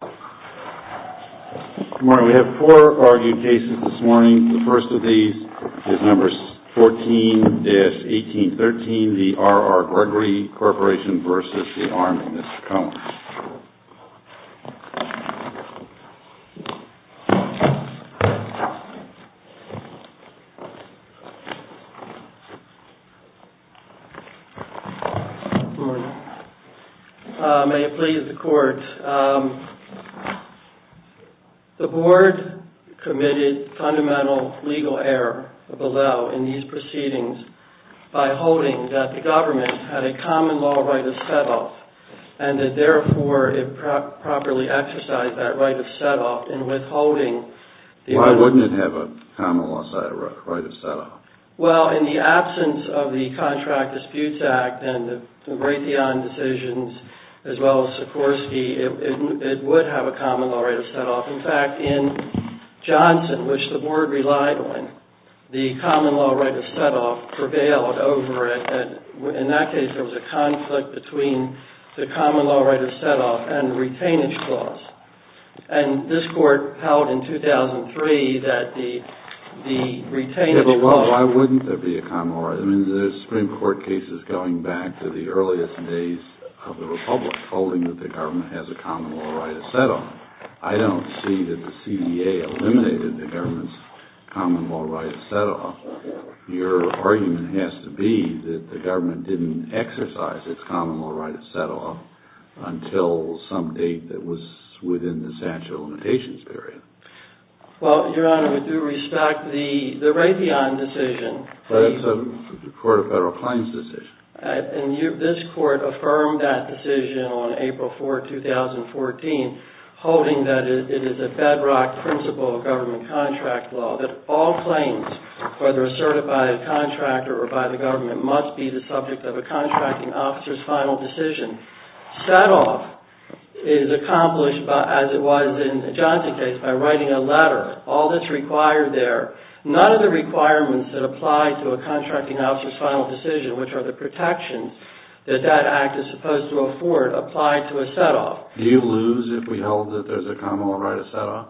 Good morning. We have four argued cases this morning. The first of these is No. 14-1813, the R.R. Gregory Corporation v. Army. Mr. Cohen. Good morning. May it please the court. The board committed fundamental legal error below in these proceedings by holding that the government had a common law right of set-off and that, therefore, it properly exercised that right of set-off in withholding... Why wouldn't it have a common law right of set-off? Well, in the absence of the Contract Disputes Act and the Raytheon decisions, as well as Sikorsky, it would have a common law right of set-off. In fact, in Johnson, which the board relied on, the common law right of set-off prevailed over it. In that case, there was a conflict between the common law right of set-off and retainage clause. And this court held in 2003 that the retainage clause... Yeah, but why wouldn't there be a common law right? I mean, there's Supreme Court cases going back to the earliest days of the Republic holding that the government has a common law right of set-off. I don't see that the CDA eliminated the government's common law right of set-off. Your argument has to be that the government didn't exercise its common law right of set-off until some date that was within the statute of limitations period. Well, Your Honor, with due respect, the Raytheon decision... That's the Court of Federal Claims decision. This court affirmed that decision on April 4, 2014, holding that it is a bedrock principle of government contract law, that all claims, whether asserted by a contractor or by the government, must be the subject of a contracting officer's final decision. Set-off is accomplished, as it was in the Johnson case, by writing a letter. All that's required there, none of the requirements that apply to a contracting officer's final decision, which are the protections that that act is supposed to afford, apply to a set-off. Do you lose if we hold that there's a common law right of set-off?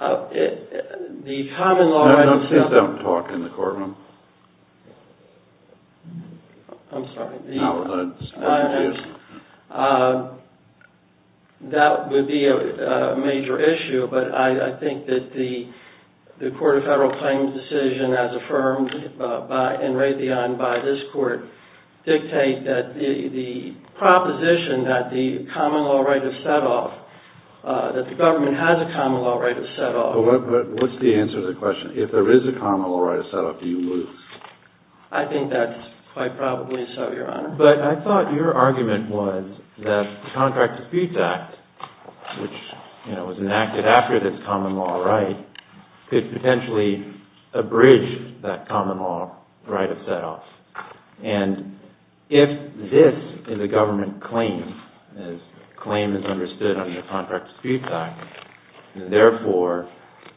No, no, please don't talk in the courtroom. I'm sorry. No, no. That would be a major issue, but I think that the Court of Federal Claims decision, as affirmed in Raytheon by this court, dictate that the proposition that the common law right of set-off, that the government has a common law right of set-off... But what's the answer to the question? If there is a common law right of set-off, do you lose? I think that's quite probably so, Your Honor. But I thought your argument was that the Contract of Speeds Act, which was enacted after this common law right, could potentially abridge that common law right of set-off. And if this is a government claim, as claim is understood under the Contract of Speeds Act, and therefore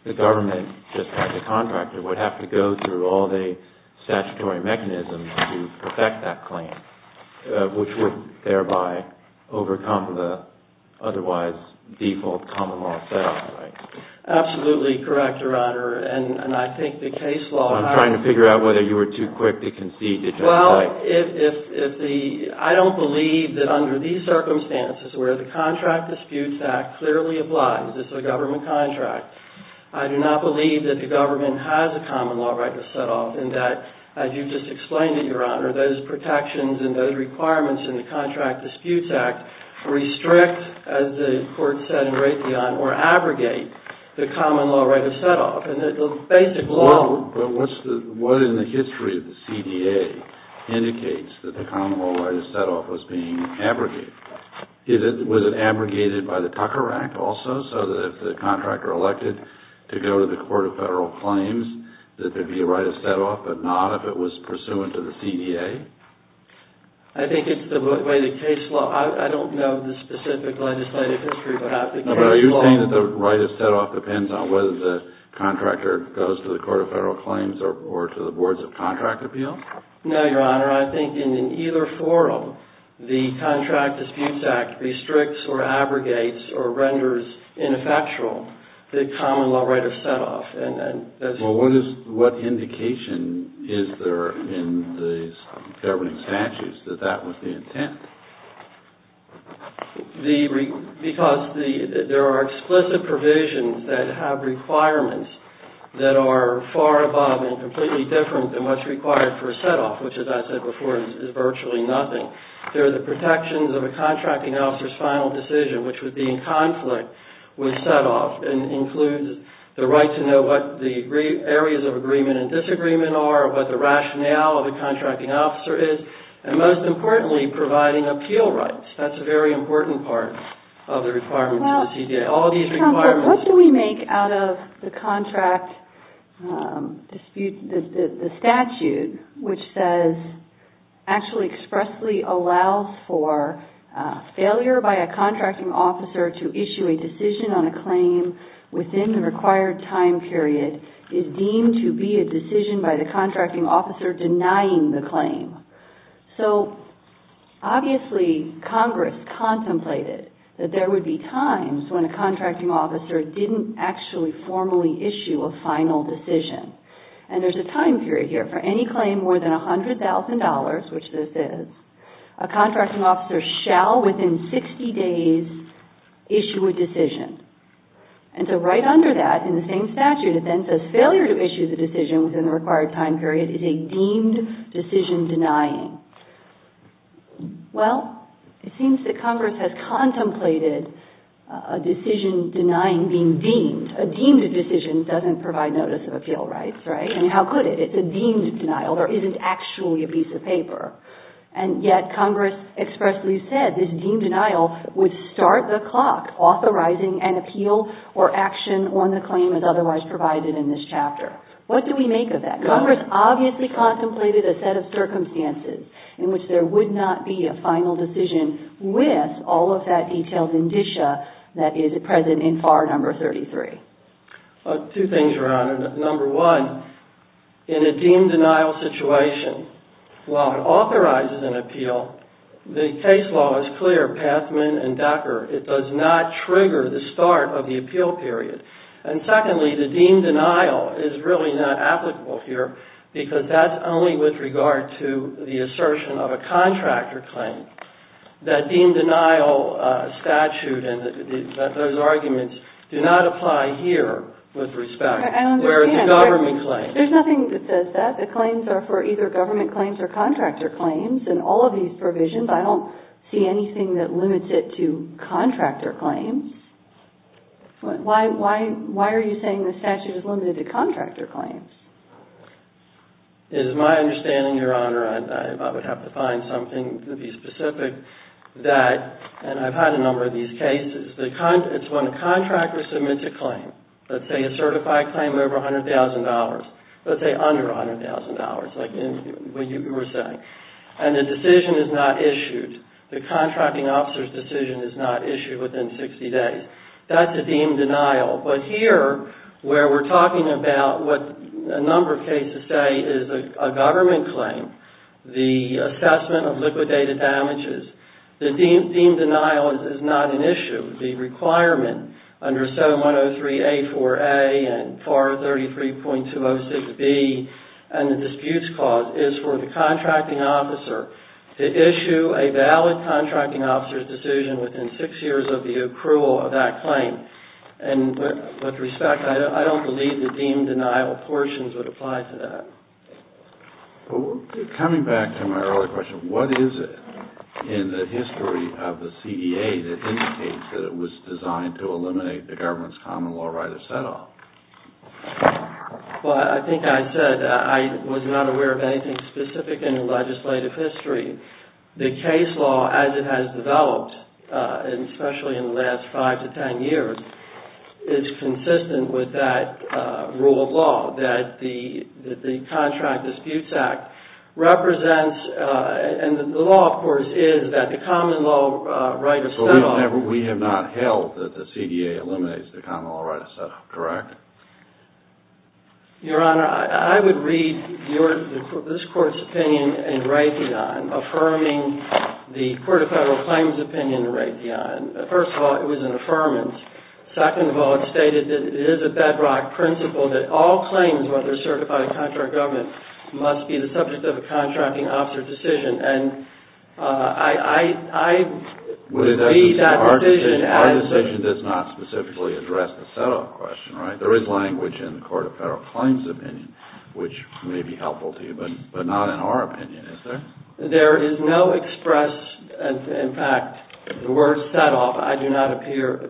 the government, just like the contractor, would have to go through all the statutory mechanisms to perfect that claim, which would thereby overcome the otherwise default common law set-off, right? Absolutely correct, Your Honor, and I think the case law... I'm trying to figure out whether you were too quick to concede that you're right. I don't believe that under these circumstances, where the Contract of Speeds Act clearly applies as a government contract, I do not believe that the government has a common law right of set-off, and that, as you just explained it, Your Honor, those protections and those requirements in the Contract of Speeds Act restrict, as the court said in Raytheon, or abrogate the common law right of set-off, and that the basic law... What in the history of the CDA indicates that the common law right of set-off was being abrogated? Was it abrogated by the Tucker Act also, so that if the contractor elected to go to the Court of Federal Claims, that there'd be a right of set-off, but not if it was pursuant to the CDA? I think it's the way the case law... I don't know the specific legislative history, but I think the case law... No, Your Honor. I think in either forum, the Contract of Speeds Act restricts or abrogates or renders ineffectual the common law right of set-off. Well, what indication is there in these governing statutes that that was the intent? Because there are explicit provisions that have requirements that are far above and completely different than what's required for a set-off, which, as I said before, is virtually nothing. There are the protections of a contracting officer's final decision, which would be in conflict with set-off, and includes the right to know what the areas of agreement and disagreement are, what the rationale of a contracting officer is, and most importantly, providing appeal rights. That's a very important part of the requirements of the CDA. All these requirements... What do we make out of the contract dispute, the statute, which says, actually expressly allows for failure by a contracting officer to issue a decision on a claim within the required time period is deemed to be a decision by the contracting officer denying the claim. Obviously, Congress contemplated that there would be times when a contracting officer didn't actually formally issue a final decision. There's a time period here. For any claim more than $100,000, which this is, a contracting officer shall, within 60 days, issue a decision. Right under that, in the same statute, it then says, failure to issue the decision within the required time period is a deemed decision denying. Well, it seems that Congress has contemplated a decision denying being deemed. A deemed decision doesn't provide notice of appeal rights, right? I mean, how could it? It's a deemed denial. There isn't actually a piece of paper. And yet, Congress expressly said this deemed denial would start the clock, authorizing an appeal or action on the claim as otherwise provided in this chapter. What do we make of that? Congress obviously contemplated a set of circumstances in which there would not be a final decision with all of that detailed indicia that is present in FAR number 33. Two things around it. Number one, in a deemed denial situation, while it authorizes an appeal, the case law is clear, Pathman and Decker, it does not trigger the start of the appeal period. And secondly, the deemed denial is really not applicable here, because that's only with regard to the assertion of a contractor claim. That deemed denial statute and those arguments do not apply here with respect. There's nothing that says that. The claims are for either government claims or contractor claims. In all of these provisions, I don't see anything that limits it to contractor claims. Why are you saying the statute is limited to contractor claims? It is my understanding, Your Honor, and I would have to find something to be specific, that, and I've had a number of these cases, it's when a contractor submits a claim. Let's say a certified claim over $100,000. Let's say under $100,000, like you were saying. And the decision is not issued. The contracting officer's decision is not issued within 60 days. That's a deemed denial. But here, where we're talking about what a number of cases say is a government claim, the assessment of liquidated damages, the deemed denial is not an issue. The requirement under 7103A4A and FAR 33.206B and the disputes clause is for the contracting officer to issue a valid contracting officer's decision within six years of the accrual of that claim. And with respect, I don't believe the deemed denial portions would apply to that. Coming back to my earlier question, what is it in the history of the CEA that indicates that it was designed to eliminate the government's common law right of set-off? Well, I think I said I was not aware of anything specific in the legislative history. The case law, as it has developed, and especially in the last five to ten years, is consistent with that rule of law that the Contract Disputes Act represents. And the law, of course, is that the common law right of set-off... But we have not held that the CEA eliminates the common law right of set-off, correct? Your Honor, I would read this Court's opinion in Raytheon, affirming the Court of Federal Claims' opinion in Raytheon. First of all, it was an affirmance. Second of all, it stated that it is a bedrock principle that all claims, whether certified or contract government, must be the subject of a contracting officer's decision. And I would read that decision as... Our decision does not specifically address the set-off question, right? There is language in the Court of Federal Claims' opinion, which may be helpful to you, but not in our opinion, is there? There is no express... In fact, the word set-off, I do not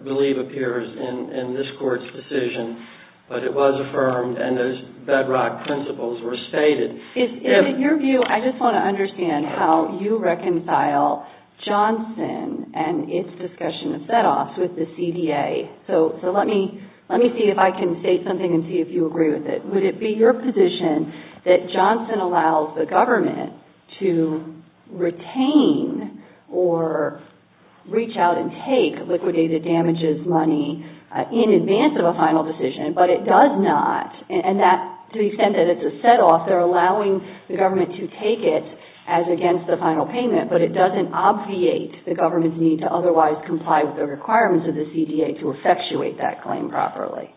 believe, appears in this Court's decision. But it was affirmed, and those bedrock principles were stated. In your view, I just want to understand how you reconcile Johnson and its discussion of set-offs with the CDA. So let me see if I can state something and see if you agree with it. Would it be your position that Johnson allows the government to retain or reach out and take liquidated damages money in advance of a final decision, but it does not? And that, to the extent that it's a set-off, they're allowing the government to take it as against the final payment, but it doesn't obviate the government's need to otherwise comply with the requirements of the CDA to effectuate that claim properly.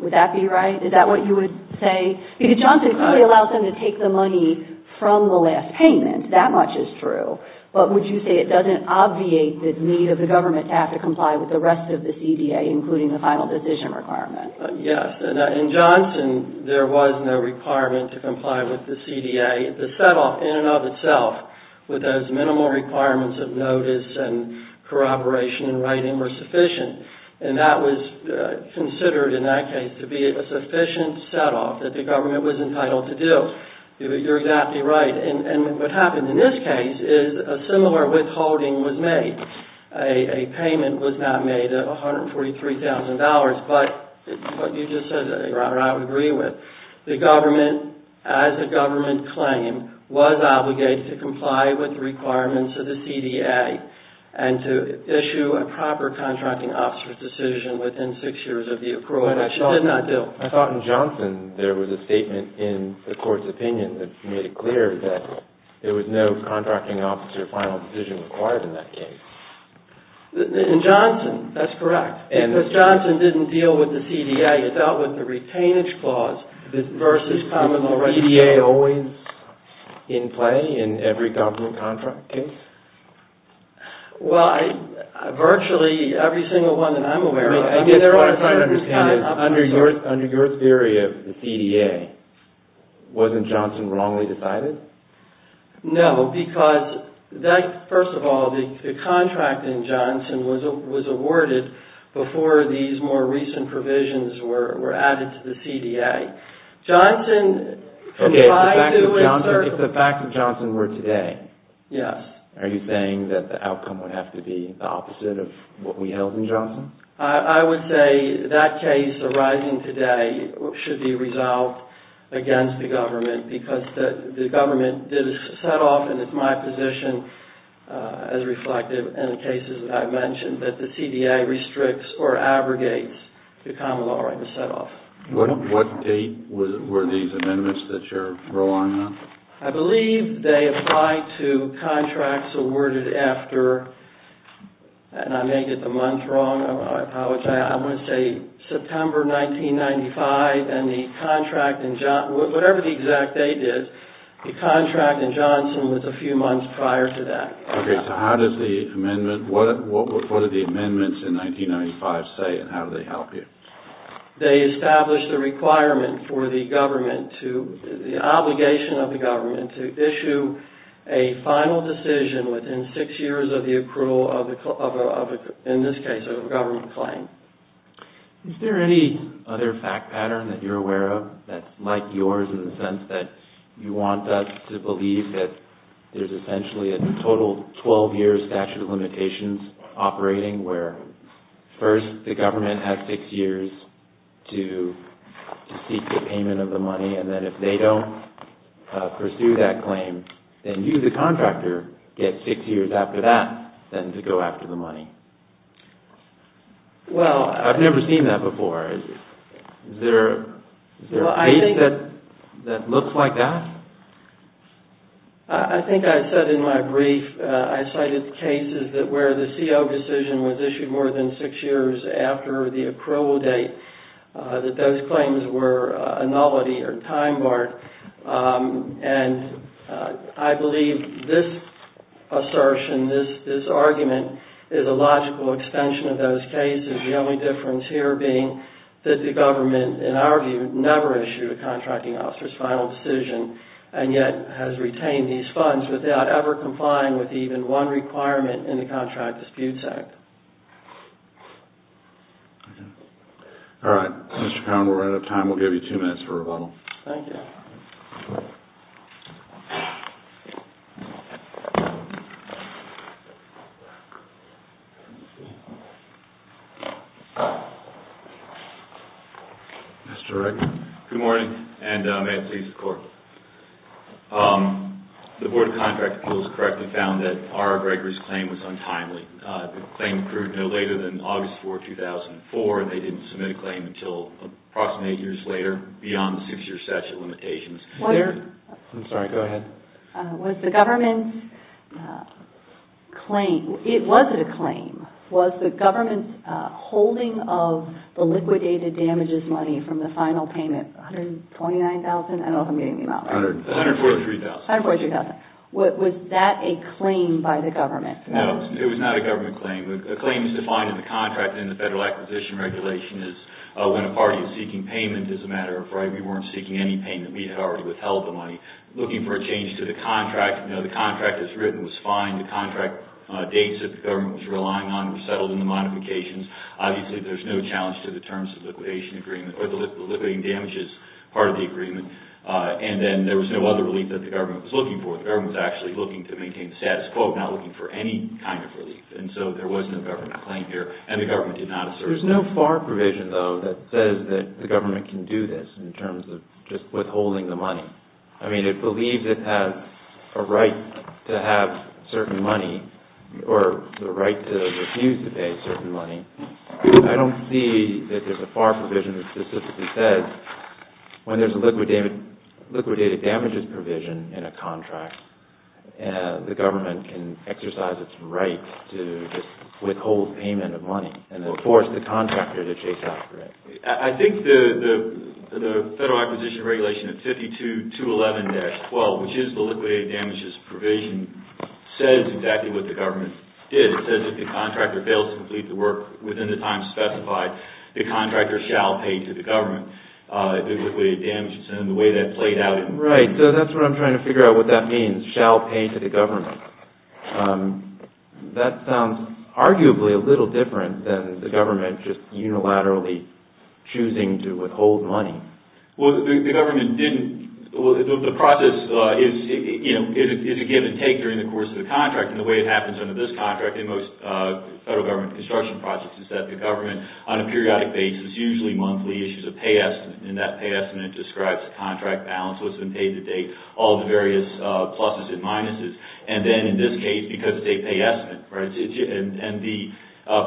Would that be right? Is that what you would say? Because Johnson clearly allows them to take the money from the last payment. That much is true. But would you say it doesn't obviate the need of the government to have to comply with the rest of the CDA, including the final decision requirement? Yes. In Johnson, there was no requirement to comply with the CDA. The set-off, in and of itself, with those minimal requirements of notice and corroboration and writing, were sufficient. And that was considered, in that case, to be a sufficient set-off that the government was entitled to do. You're exactly right. And what happens in this case is a similar withholding was made. A payment was not made of $143,000. But you just said what I would agree with. The government, as a government claim, was obligated to comply with the requirements of the CDA and to issue a proper contracting officer's decision within six years of the approval, which it did not do. I thought in Johnson, there was a statement in the Court's opinion that made it clear that there was no contracting officer final decision required in that case. In Johnson, that's correct. Because Johnson didn't deal with the CDA. Well, virtually every single one that I'm aware of... What I'm trying to understand is, under your theory of the CDA, wasn't Johnson wrongly decided? No, because, first of all, the contract in Johnson was awarded before these more recent provisions were added to the CDA. Johnson... Okay, if the facts of Johnson were today... Yes. Are you saying that the outcome would have to be the opposite of what we held in Johnson? I would say that case arising today should be resolved against the government, because the government did a set-off, and it's my position, as reflected in the cases that I've mentioned, that the CDA restricts or abrogates the common law right to set-off. What date were these amendments that you're relying on? I believe they apply to contracts awarded after... And I may get the month wrong. I apologize. I want to say September 1995, and the contract in Johnson... Whatever the exact date is, the contract in Johnson was a few months prior to that. Okay, so how does the amendment... What do the amendments in 1995 say, and how do they help you? They establish the requirement for the government to... The obligation of the government to issue a final decision within six years of the approval of, in this case, a government claim. Is there any other fact pattern that you're aware of that's like yours in the sense that you want us to believe that there's essentially a total 12-year statute of limitations operating, where first the government has six years to seek the payment of the money, and then if they don't pursue that claim, then you, the contractor, get six years after that then to go after the money? Well, I've never seen that before. Is there a case that looks like that? I think I said in my brief, I cited cases where the CO decision was issued more than six years after the approval date, that those claims were a novelty or time-barred. And I believe this assertion, this argument, is a logical extension of those cases. The only difference here being that the government, in our view, never issued a contracting officer's final decision, and yet has retained these funds without ever complying with even one requirement in the Contract Disputes Act. All right. Mr. Cowen, we're out of time. We'll give you two minutes for rebuttal. Thank you. Mr. Rector. Good morning, and may it please the Court. The Board of Contract Appeals correctly found that R. Gregory's claim was untimely. The claim occurred no later than August 4, 2004, and they didn't submit a claim until approximately eight years later, beyond the six-year statute of limitations. I'm sorry. Go ahead. Was the government's claim – was it a claim? Was the government's holding of the liquidated damages money from the final payment, $129,000? I don't know if I'm getting the amount right. $143,000. $143,000. Was that a claim by the government? No, it was not a government claim. A claim is defined in the contract and the Federal Acquisition Regulation is when a party is seeking payment as a matter of right. We weren't seeking any payment. We had already withheld the money. Looking for a change to the contract, you know, the contract as written was fine. The contract dates that the government was relying on were settled in the modifications. Obviously, there's no challenge to the terms of the liquidation agreement – or the liquidating damages part of the agreement. And then there was no other relief that the government was looking for. The government was actually looking to maintain the status quo, not looking for any kind of relief. And so there was no government claim here, and the government did not assert it. There's no FAR provision, though, that says that the government can do this in terms of just withholding the money. I mean, it believes it has a right to have certain money or the right to refuse to pay certain money. I don't see that there's a FAR provision that specifically says when there's a liquidated damages provision in a contract, the government can exercise its right to withhold payment of money and then force the contractor to chase after it. I think the Federal Acquisition Regulation of 5211-12, which is the liquidated damages provision, says exactly what the government did. It says if the contractor fails to complete the work within the time specified, the contractor shall pay to the government the liquidated damages. Right, so that's what I'm trying to figure out what that means, shall pay to the government. That sounds arguably a little different than the government just unilaterally choosing to withhold money. Well, the government didn't. The process is a give and take during the course of the contract, and the way it happens under this contract and most federal government construction projects is that the government, on a periodic basis, usually monthly, issues a pay estimate. That pay estimate describes the contract balance, what's been paid to date, all the various pluses and minuses. Then, in this case, because it's a pay estimate, and the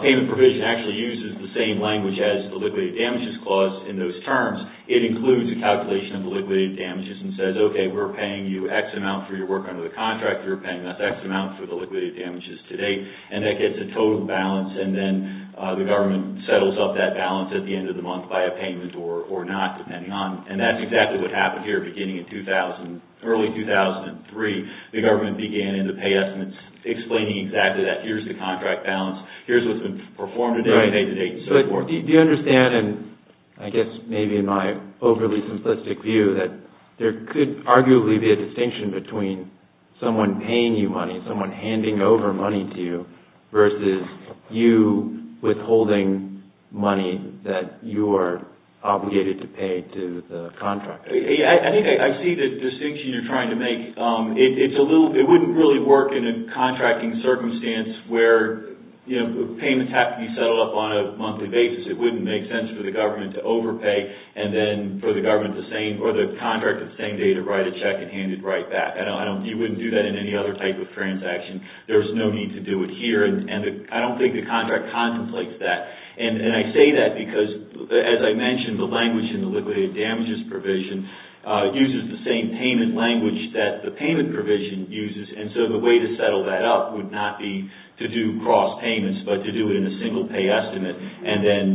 payment provision actually uses the same language as the liquidated damages clause in those terms, it includes a calculation of the liquidated damages and says, okay, we're paying you X amount for your work under the contract. You're paying us X amount for the liquidated damages to date, and that gets a total balance. Then, the government settles up that balance at the end of the month by a payment or not, depending on, and that's exactly what happened here beginning in early 2003. The government began in the pay estimates explaining exactly that. Here's the contract balance. Here's what's been performed to date and paid to date and so forth. Do you understand, and I guess maybe in my overly simplistic view, that there could arguably be a distinction between someone paying you money, someone handing over money to you, versus you withholding money that you are obligated to pay to the contractor. I think I see the distinction you're trying to make. It wouldn't really work in a contracting circumstance where payments have to be settled up on a monthly basis. It wouldn't make sense for the government to overpay and then for the government or the contract to stay to write a check and hand it right back. You wouldn't do that in any other type of transaction. There's no need to do it here, and I don't think the contract contemplates that. I say that because, as I mentioned, the language in the liquidated damages provision uses the same payment language that the payment provision uses, and so the way to settle that up would not be to do cross payments but to do it in a single pay estimate and then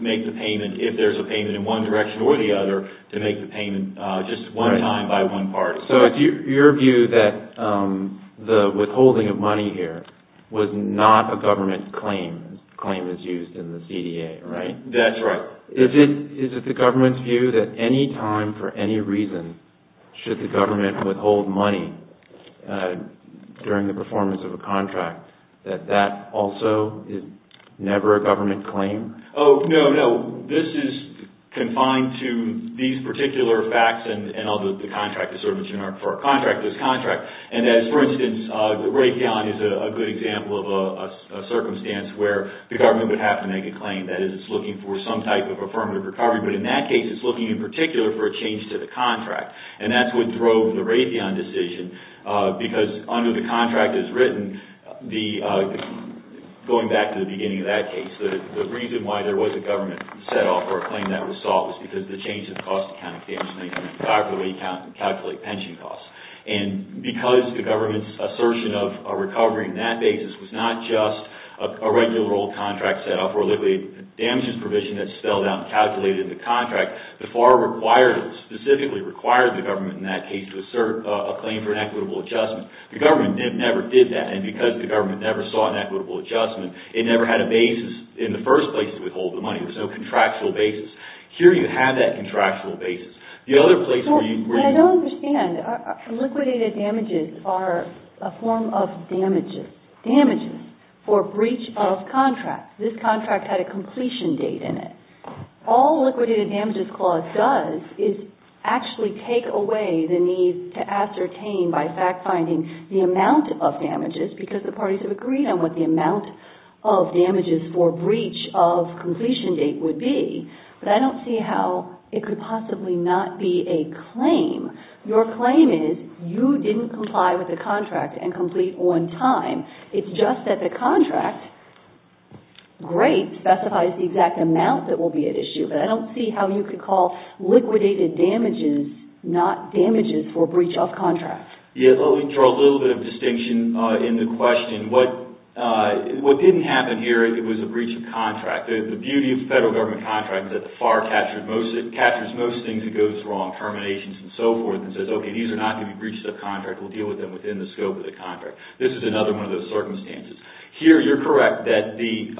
make the payment, if there's a payment in one direction or the other, to make the payment just one time by one party. So it's your view that the withholding of money here was not a government claim. The claim is used in the CDA, right? That's right. Is it the government's view that any time for any reason should the government withhold money during the performance of a contract, that that also is never a government claim? Oh, no, no. This is confined to these particular facts, and although the contract is sort of a generic for a contract, there's a contract, and that is, for instance, the Raytheon is a good example of a circumstance where the government would have to make a claim. That is, it's looking for some type of affirmative recovery, but in that case, it's looking in particular for a change to the contract, and that's what drove the Raytheon decision because under the contract as written, going back to the beginning of that case, the reason why there was a government set-off or a claim that was sought was because of the change in the cost accounting. They were just going to calculate pension costs. And because the government's assertion of a recovery in that case was not just a regular old contract set-off or a liquid damages provision that's spelled out and calculated in the contract, the FAR specifically required the government in that case to assert a claim for an equitable adjustment. The government never did that, and because the government never sought an equitable adjustment, it never had a basis in the first place to withhold the money. There's no contractual basis. Here you have that contractual basis. The other place where you... Well, I don't understand. Liquidated damages are a form of damages, damages for breach of contract. This contract had a completion date in it. All liquidated damages clause does is actually take away the need to ascertain by fact-finding the amount of damages because the parties have agreed on what the amount of damages for breach of completion date would be. But I don't see how it could possibly not be a claim. Your claim is you didn't comply with the contract and complete on time. It's just that the contract, great, specifies the exact amount that will be at issue, but I don't see how you could call liquidated damages not damages for breach of contract. Yeah, let me draw a little bit of distinction in the question. What didn't happen here, it was a breach of contract. The beauty of the federal government contract is that the FAR captures most things that goes wrong, terminations and so forth, and says, okay, these are not going to be breached of contract. We'll deal with them within the scope of the contract. This is another one of those circumstances. Here you're correct that the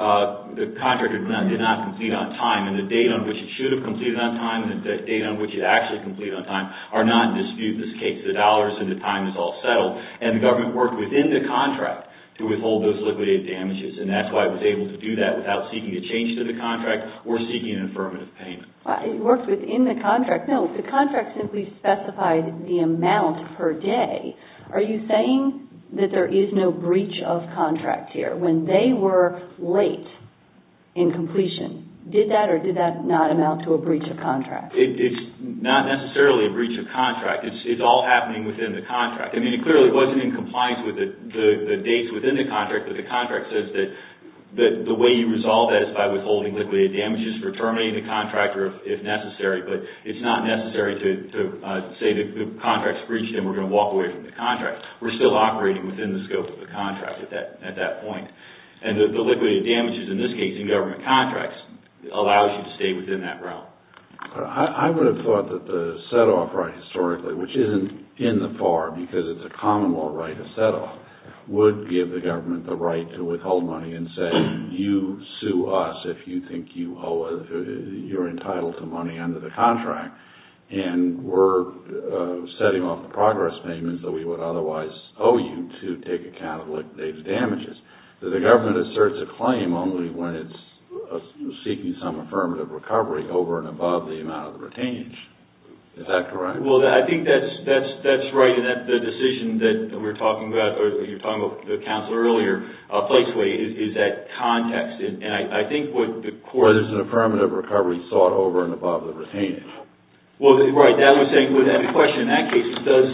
contract did not complete on time, and the date on which it should have completed on time and the date on which it actually completed on time are not in dispute in this case. The dollars and the time is all settled. And the government worked within the contract to withhold those liquidated damages, and that's why it was able to do that without seeking a change to the contract or seeking an affirmative payment. It worked within the contract. No, the contract simply specified the amount per day. Are you saying that there is no breach of contract here? When they were late in completion, did that or did that not amount to a breach of contract? It's not necessarily a breach of contract. It's all happening within the contract. I mean, it clearly wasn't in compliance with the dates within the contract, but the contract says that the way you resolve that is by withholding liquidated damages for terminating the contract if necessary. But it's not necessary to say the contract's breached and we're going to walk away from the contract. We're still operating within the scope of the contract at that point. And the liquidated damages in this case in government contracts allows you to stay within that realm. I would have thought that the set-off right historically, which isn't in the FAR, because it's a common law right, a set-off, would give the government the right to withhold money and say you sue us if you think you're entitled to money under the contract, and we're setting off the progress payments that we would otherwise owe you to take account of liquidated damages. The government asserts a claim only when it's seeking some affirmative recovery over and above the amount of the retainage. Is that correct? Well, I think that's right, and that's the decision that we're talking about, or you're talking about the counselor earlier, is that context. And I think what the court... Where there's an affirmative recovery sought over and above the retainage. Well, right. As I was saying, the question in that case, does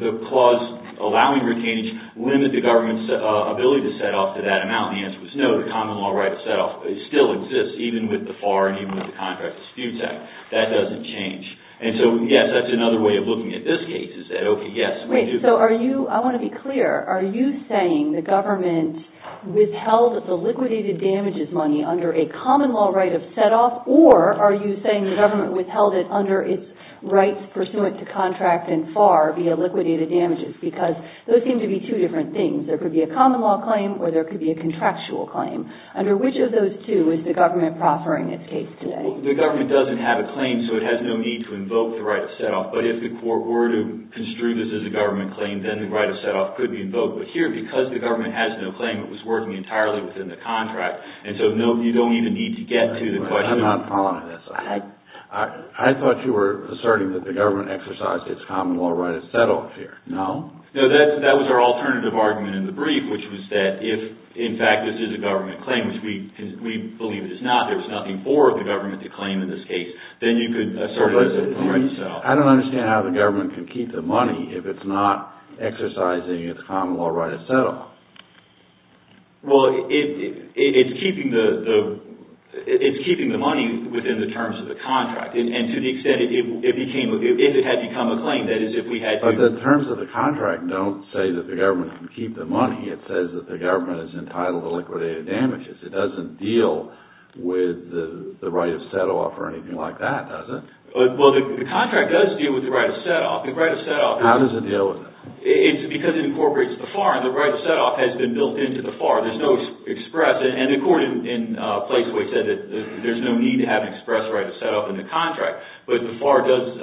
the clause allowing retainage limit the government's ability to set off to that amount? The answer was no, the common law right of set-off still exists, even with the FAR and even with the contract dispute act. That doesn't change. And so, yes, that's another way of looking at this case, is that, okay, yes, we do... Wait, so are you... I want to be clear. Are you saying the government withheld the liquidated damages money under a common law right of set-off, or are you saying the government withheld it under its rights pursuant to contract and FAR via liquidated damages? Because those seem to be two different things. There could be a common law claim, or there could be a contractual claim. Under which of those two is the government proffering its case today? Well, the government doesn't have a claim, so it has no need to invoke the right of set-off. But if the court were to construe this as a government claim, then the right of set-off could be invoked. But here, because the government has no claim, it was working entirely within the contract. And so you don't even need to get to the question... I'm not following this. I thought you were asserting that the government exercised its common law right of set-off here. No. No, that was our alternative argument in the brief, which was that if, in fact, this is a government claim, which we believe it is not, there's nothing for the government to claim in this case, then you could assert... I don't understand how the government can keep the money if it's not exercising its common law right of set-off. Well, it's keeping the money within the terms of the contract, and to the extent it became... if it had become a claim, that is, if we had... But the terms of the contract don't say that the government can keep the money. It says that the government is entitled to liquidated damages. It doesn't deal with the right of set-off or anything like that, does it? Well, the contract does deal with the right of set-off. The right of set-off... How does it deal with it? It's because it incorporates the FAR, and the right of set-off has been built into the FAR. There's no express... And the court in Placeway said that there's no need to have an express right of set-off in the contract, but the FAR does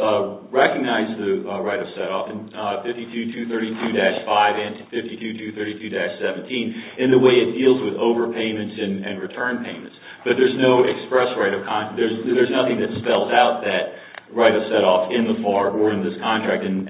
recognize the right of set-off in 52-232-5 and 52-232-17 in the way it deals with overpayments and return payments. But there's no express right of... There's nothing that spells out that right of set-off in the FAR or in this contract, and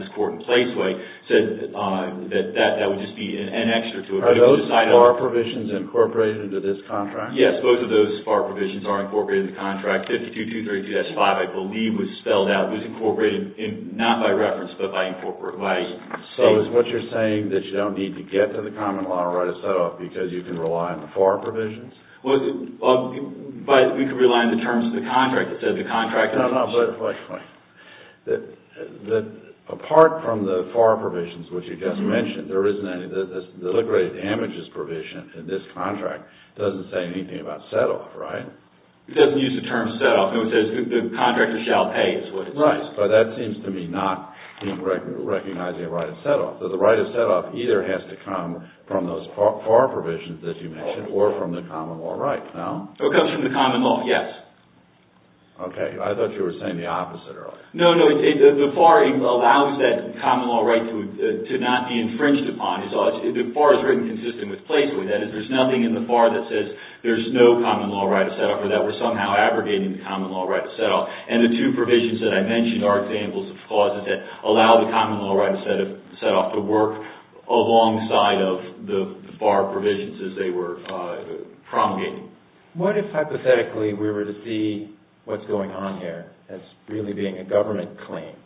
this court in Placeway said that that would just be an extra to it. Are those FAR provisions incorporated into this contract? Yes, both of those FAR provisions are incorporated in the contract. 52-232-5, I believe, was spelled out. It was incorporated not by reference, but by... So is what you're saying that you don't need to get to the common law right of set-off because you can rely on the FAR provisions? Well, but we can rely on the terms of the contract. It says the contract... I don't know, but apart from the FAR provisions, which you just mentioned, there isn't any... The liquidated damages provision in this contract doesn't say anything about set-off, right? It doesn't use the term set-off. It says the contractor shall pay, is what it says. Right, but that seems to me not recognizing a right of set-off. So the right of set-off either has to come from those FAR provisions that you mentioned or from the common law right, no? It comes from the common law, yes. Okay. I thought you were saying the opposite earlier. No, no. The FAR allows that common law right to not be infringed upon. The FAR is written consistent with Placeway. That is, there's nothing in the FAR that says there's no common law right of set-off or that we're somehow abrogating the common law right of set-off, and the two provisions that I mentioned are examples of clauses that allow the common law right of set-off to work alongside of the FAR provisions as they were promulgated. What if, hypothetically, we were to see what's going on here as really being a government claim,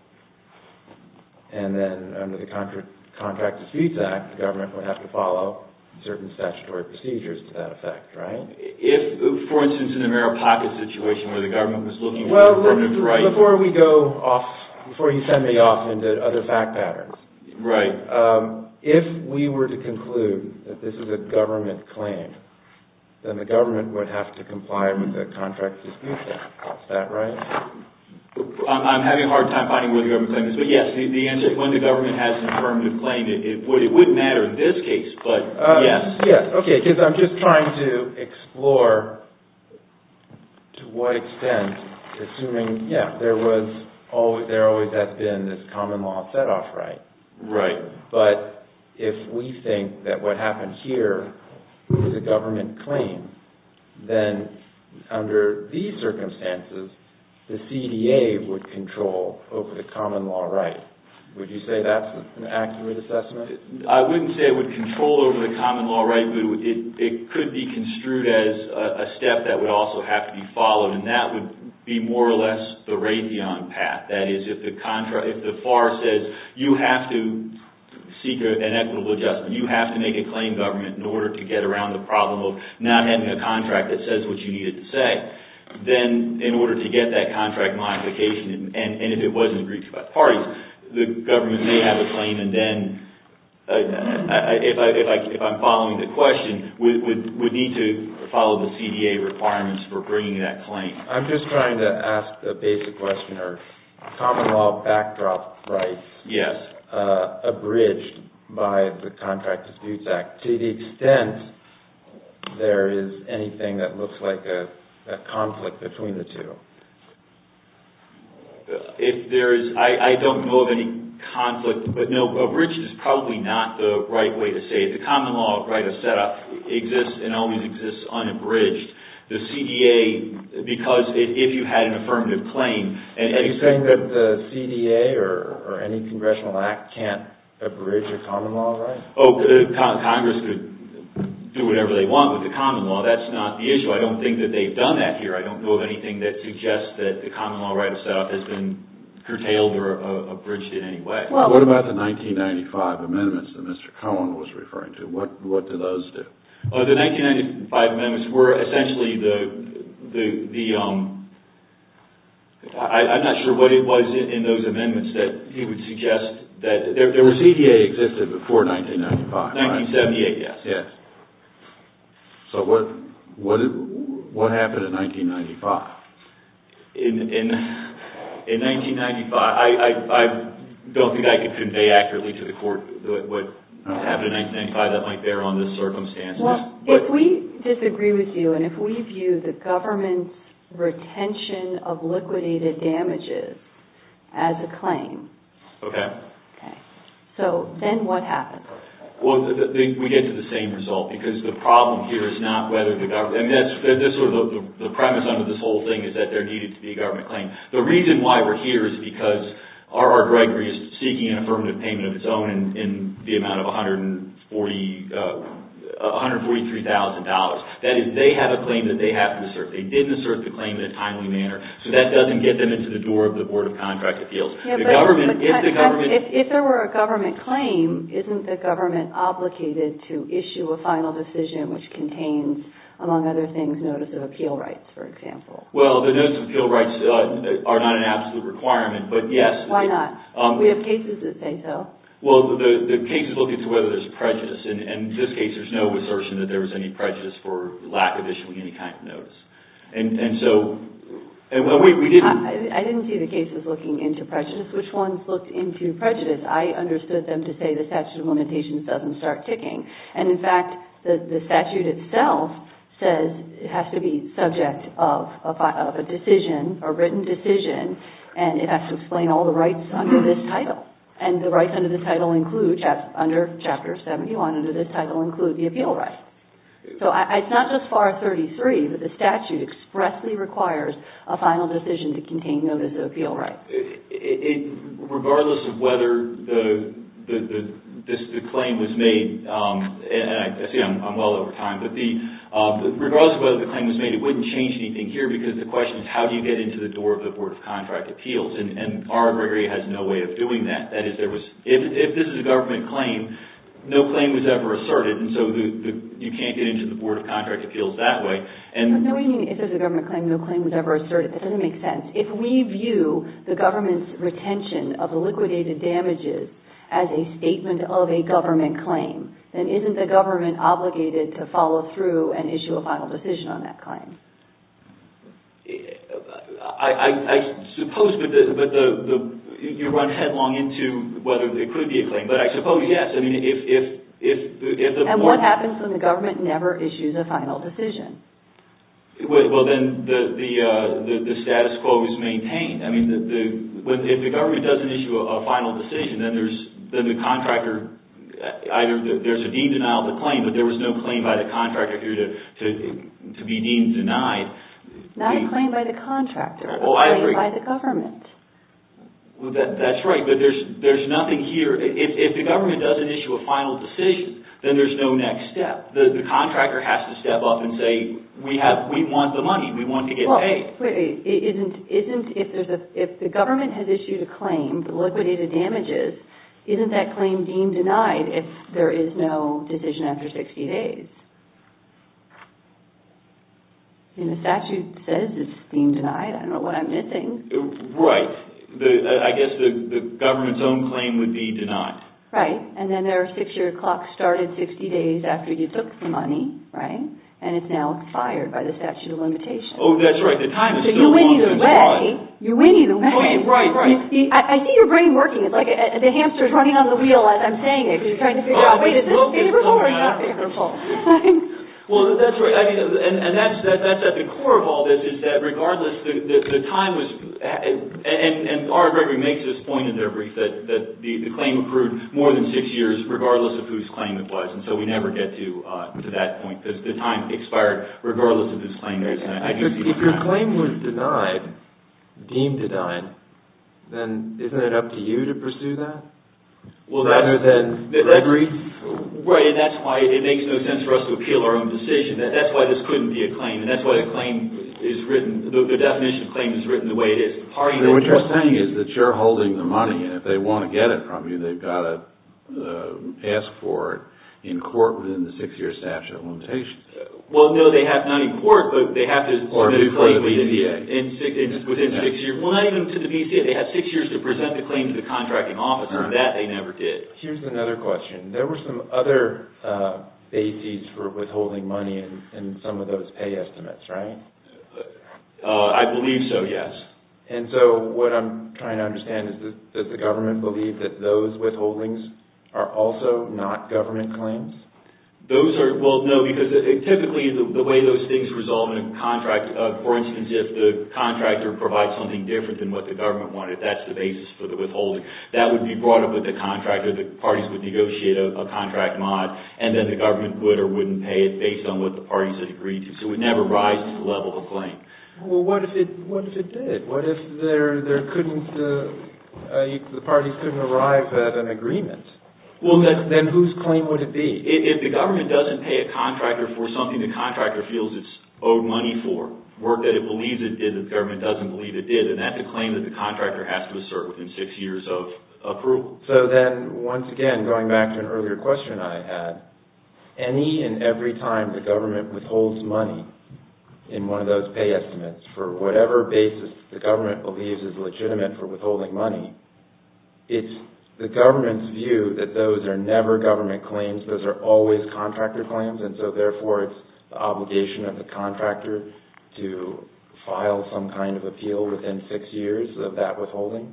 and then under the Contracts and Fees Act, the government would have to follow certain statutory procedures to that effect, right? If, for instance, in the Merrill-Packard situation where the government was looking for the affirmative right Before we go off, before you send me off into other fact patterns. Right. If we were to conclude that this is a government claim, then the government would have to comply with the Contracts and Fees Act. Is that right? I'm having a hard time finding where the government claim is, but yes, the answer is when the government has an affirmative claim, it would matter in this case, but yes. Yes, okay, because I'm just trying to explore to what extent, assuming, yeah, there always has been this common law set-off right. Right. But if we think that what happened here was a government claim, then under these circumstances, the CDA would control over the common law right. Would you say that's an accurate assessment? I wouldn't say it would control over the common law right, but it could be construed as a step that would also have to be followed, and that would be more or less the Raytheon path. That is, if the FAR says you have to seek an equitable adjustment, you have to make a claim, government, in order to get around the problem of not having a contract that says what you need it to say, then in order to get that contract modification, and if it wasn't reached by parties, the government may have a claim, and then if I'm following the question, we would need to follow the CDA requirements for bringing that claim. I'm just trying to ask a basic question. Common law backdrop rights. Yes. Abridged by the Contract Disputes Act. To the extent there is anything that looks like a conflict between the two. I don't know of any conflict, but no, abridged is probably not the right way to say it. The common law right of setup exists and always exists unabridged. The CDA, because if you had an affirmative claim... Are you saying that the CDA or any congressional act can't abridge a common law right? Oh, Congress could do whatever they want with the common law. That's not the issue. I don't think that they've done that here. I don't know of anything that suggests that the common law right of setup has been curtailed or abridged in any way. What about the 1995 amendments that Mr. Cohen was referring to? What do those do? The 1995 amendments were essentially the... I'm not sure what it was in those amendments that he would suggest. The CDA existed before 1995, right? 1978, yes. So what happened in 1995? In 1995, I don't think I can convey accurately to the court what happened in 1995. That might bear on the circumstances. If we disagree with you and if we view the government's retention of liquidated damages as a claim, then what happens? Well, we get to the same result because the problem here is not whether the government... The premise under this whole thing is that there needed to be a government claim. The reason why we're here is because R.R. Gregory is seeking an affirmative payment of its own in the amount of $143,000. That is, they have a claim that they have to assert. They didn't assert the claim in a timely manner, so that doesn't get them into the door of the Board of Contract Appeals. If there were a government claim, isn't the government obligated to issue a final decision which contains, among other things, notice of appeal rights, for example? Well, the notice of appeal rights are not an absolute requirement, but yes. Why not? We have cases that say so. Well, the cases look into whether there's prejudice. In this case, there's no assertion that there was any prejudice for lack of issuing any kind of notice. I didn't see the cases looking into prejudice. Which ones looked into prejudice? I understood them to say the statute of limitations doesn't start ticking. In fact, the statute itself says it has to be subject of a decision, a written decision, and it has to explain all the rights under this title. The rights under this title include, under Chapter 71, the appeal rights. It's not just FAR 33, but the statute expressly requires a final decision to contain notice of appeal rights. Regardless of whether the claim was made, and I see I'm well over time, but regardless of whether the claim was made, it wouldn't change anything here, because the question is how do you get into the door of the Board of Contract Appeals, and R.R. Gregory has no way of doing that. If this is a government claim, no claim was ever asserted, and so you can't get into the Board of Contract Appeals that way. Knowing if it's a government claim, no claim was ever asserted, that doesn't make sense. If we view the government's retention of the liquidated damages as a statement of a government claim, then isn't the government obligated to follow through and issue a final decision on that claim? I suppose, but you run headlong into whether it could be a claim, but I suppose yes. And what happens when the government never issues a final decision? Well, then the status quo is maintained. If the government doesn't issue a final decision, then the contractor, either there's a deemed denial of the claim, but there was no claim by the contractor here to be deemed denied. Not a claim by the contractor, but a claim by the government. That's right, but there's nothing here, if the government doesn't issue a final decision, then there's no next step. The contractor has to step up and say, we want the money, we want to get paid. If the government has issued a claim, the liquidated damages, isn't that claim deemed denied if there is no decision after 60 days? The statute says it's deemed denied, I don't know what I'm missing. Right, I guess the government's own claim would be denied. Right, and then their six-year clock started 60 days after you took the money, right? And it's now expired by the statute of limitations. Oh, that's right. So you win either way. You win either way. Right, right. I see your brain working, it's like the hamster's running on the wheel, as I'm saying it, because you're trying to figure out, wait, is this favorable or not favorable? Well, that's right, and that's at the core of all this, is that regardless, the time was, and R.R. Gregory makes this point in their brief, that the claim accrued more than six years, regardless of whose claim it was, and so we never get to that point, because the time expired regardless of whose claim it was. If your claim was denied, deemed denied, then isn't it up to you to pursue that, rather than Gregory? Right, and that's why it makes no sense for us to appeal our own decision. That's why this couldn't be a claim, and that's why the definition of claim is written the way it is. What you're saying is that you're holding the money, and if they want to get it from you, then they've got to ask for it in court within the six-year statute of limitations. Well, no, not in court, but they have to submit a claim within six years. Well, not even to the BCA. They have six years to present the claim to the contracting office, and that they never did. Here's another question. There were some other bases for withholding money in some of those pay estimates, right? I believe so, yes. And so what I'm trying to understand is, does the government believe that those withholdings are also not government claims? Those are, well, no, because typically the way those things resolve in a contract, for instance, if the contractor provides something different than what the government wanted, that's the basis for the withholding. That would be brought up with the contractor. The parties would negotiate a contract mod, and then the government would or wouldn't pay it, based on what the parties had agreed to. So it never rises to the level of claim. Well, what if it did? What if the parties couldn't arrive at an agreement? Well, then whose claim would it be? If the government doesn't pay a contractor for something the contractor feels it's owed money for, work that it believes it did that the government doesn't believe it did, then that's a claim that the contractor has to assert within six years of approval. So then, once again, going back to an earlier question I had, any and every time the government withholds money in one of those pay estimates, for whatever basis the government believes is legitimate for withholding money, it's the government's view that those are never government claims. Those are always contractor claims, and so, therefore, it's the obligation of the contractor to file some kind of appeal within six years of that withholding?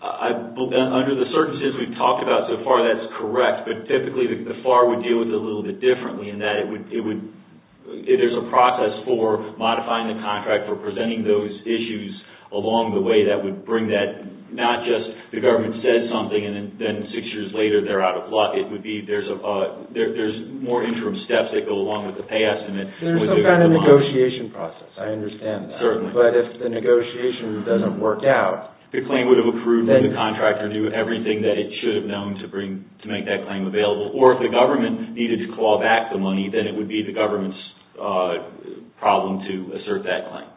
Under the circumstances we've talked about so far, that's correct. But typically, the FAR would deal with it a little bit differently, in that there's a process for modifying the contract, for presenting those issues along the way that would bring that, not just the government says something and then six years later they're out of luck. It would be there's more interim steps that go along with the pay estimate. There's some kind of negotiation process. I understand that. Certainly. But if the negotiation doesn't work out, the claim would have accrued when the contractor knew everything that it should have known to make that claim available. Or if the government needed to call back the money, then it would be the government's problem to assert that claim.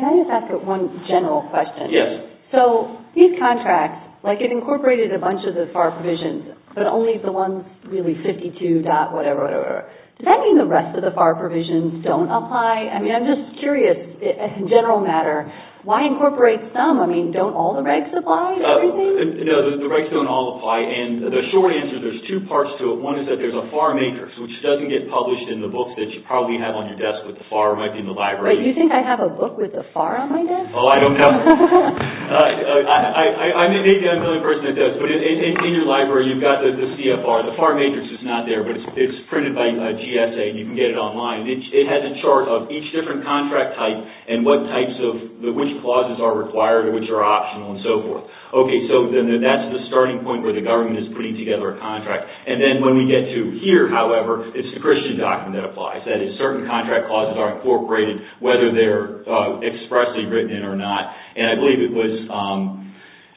Can I just ask one general question? Yes. So, these contracts, like it incorporated a bunch of the FAR provisions, but only the ones really 52 dot whatever, whatever. Does that mean the rest of the FAR provisions don't apply? I mean, I'm just curious, in general matter, why incorporate some? I mean, don't all the regs apply? No, the regs don't all apply. And the short answer, there's two parts to it. One is that there's a FAR matrix, which doesn't get published in the books that you probably have on your desk with the FAR. It might be in the library. Wait, you think I have a book with the FAR on my desk? Oh, I don't know. I may need another person at this. But in your library, you've got the CFR. The FAR matrix is not there, but it's printed by GSA and you can get it online. It has a chart of each different contract type and what types of, which clauses are required and which are optional and so forth. Okay, so then that's the starting point where the government is putting together a contract. And then when we get to here, however, it's the Christian doctrine that applies. That is, certain contract clauses are incorporated, whether they're expressly written in or not. And I believe it was,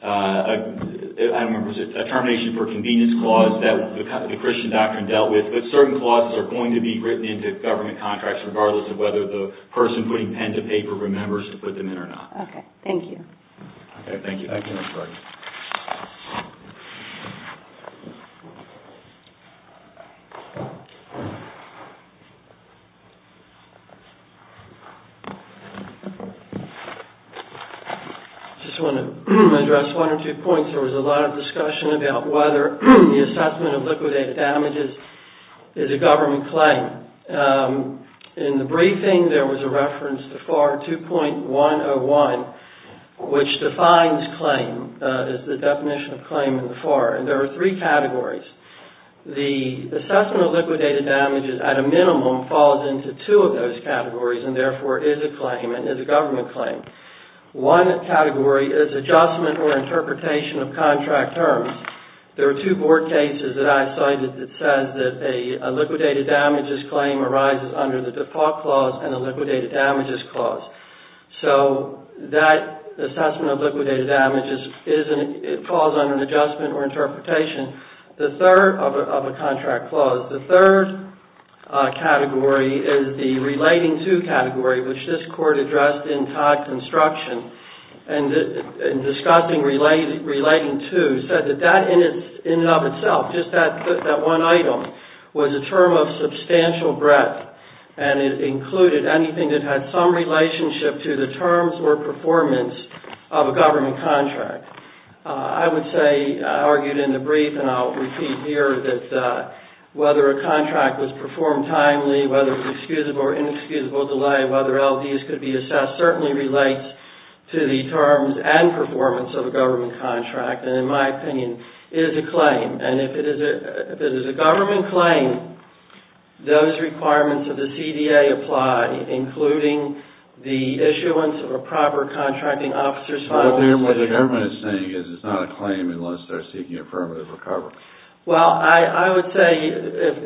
I don't remember, a termination for convenience clause that the Christian doctrine dealt with. But certain clauses are going to be written into government contracts, regardless of whether the person putting pen to paper remembers to put them in or not. Okay, thank you. Okay, thank you. I just want to address one or two points. There was a lot of discussion about whether the assessment of liquidated damages is a government claim. In the briefing, there was a reference to FAR 2.101, which defines claim, is the definition of claim in the FAR. And there are three categories. The assessment of liquidated damages at a minimum falls into two of those categories and therefore is a claim and is a government claim. One category is adjustment or interpretation of contract terms. There are two board cases that I've cited that says that a liquidated damages claim arises under the default clause and a liquidated damages clause. So that assessment of liquidated damages, it falls under adjustment or interpretation. The third of a contract clause, the third category is the relating to category, which this court addressed in Todd Construction. And discussing relating to said that that in and of itself, just that one item, was a term of substantial breadth and it included anything that had some relationship to the terms or performance of a government contract. I would say, I argued in the brief, and I'll repeat here, that whether a contract was performed timely, whether it was excusable or inexcusable delay, whether LDS could be assessed certainly relates to the terms and performance of a government contract. And in my opinion, it is a claim. And if it is a government claim, those requirements of the CDA apply, including the issuance of a proper contracting officer's file. What the government is saying is it's not a claim unless they're seeking affirmative recovery. Well, I would say,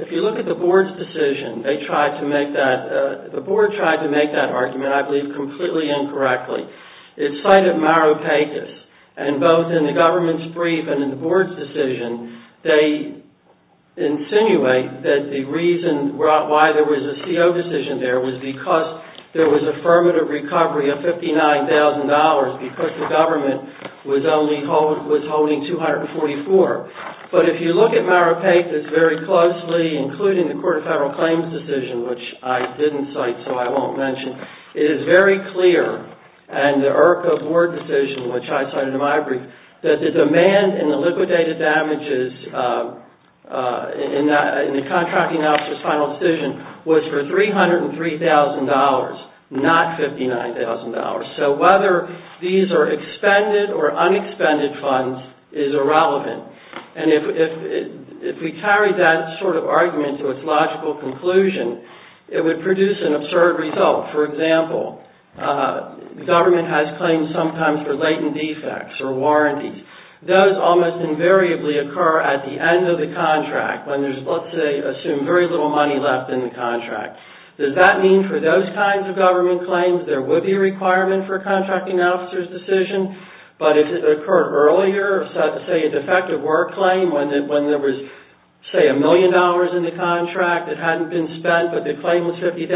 if you look at the board's decision, they tried to make that, the board tried to make that argument, I believe, completely incorrectly. It cited Maripitas. And both in the government's brief and in the board's decision, they insinuate that the reason why there was a CO decision there was because there was affirmative recovery of $59,000 because the government was only holding $244. But if you look at Maripitas very closely, including the Court of Federal Claims decision, which I didn't cite, so I won't mention, it is very clear in the IRCA board decision, which I cited in my brief, that the demand in the liquidated damages in the contracting officer's final decision was for $303,000, not $59,000. So whether these are expended or unexpended funds is irrelevant. And if we carry that sort of argument to its logical conclusion, it would produce an absurd result. For example, government has claims sometimes for latent defects or warranties. Those almost invariably occur at the end of the contract when there's, let's say, assume very little money left in the contract. Does that mean for those kinds of government claims there would be a requirement for a contracting officer's decision? But if it occurred earlier, say a defective work claim, when there was, say, a million dollars in the contract, it hadn't been spent, but the claim was $50,000,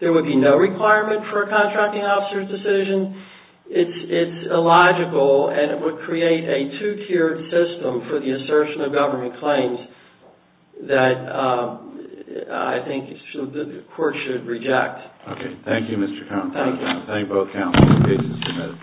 there would be no requirement for a contracting officer's decision? It's illogical, and it would create a two-tiered system for the assertion of government claims that I think the court should reject. Okay. Thank you, Mr. Conrad. Thank you. Thank both counsels. Case is submitted.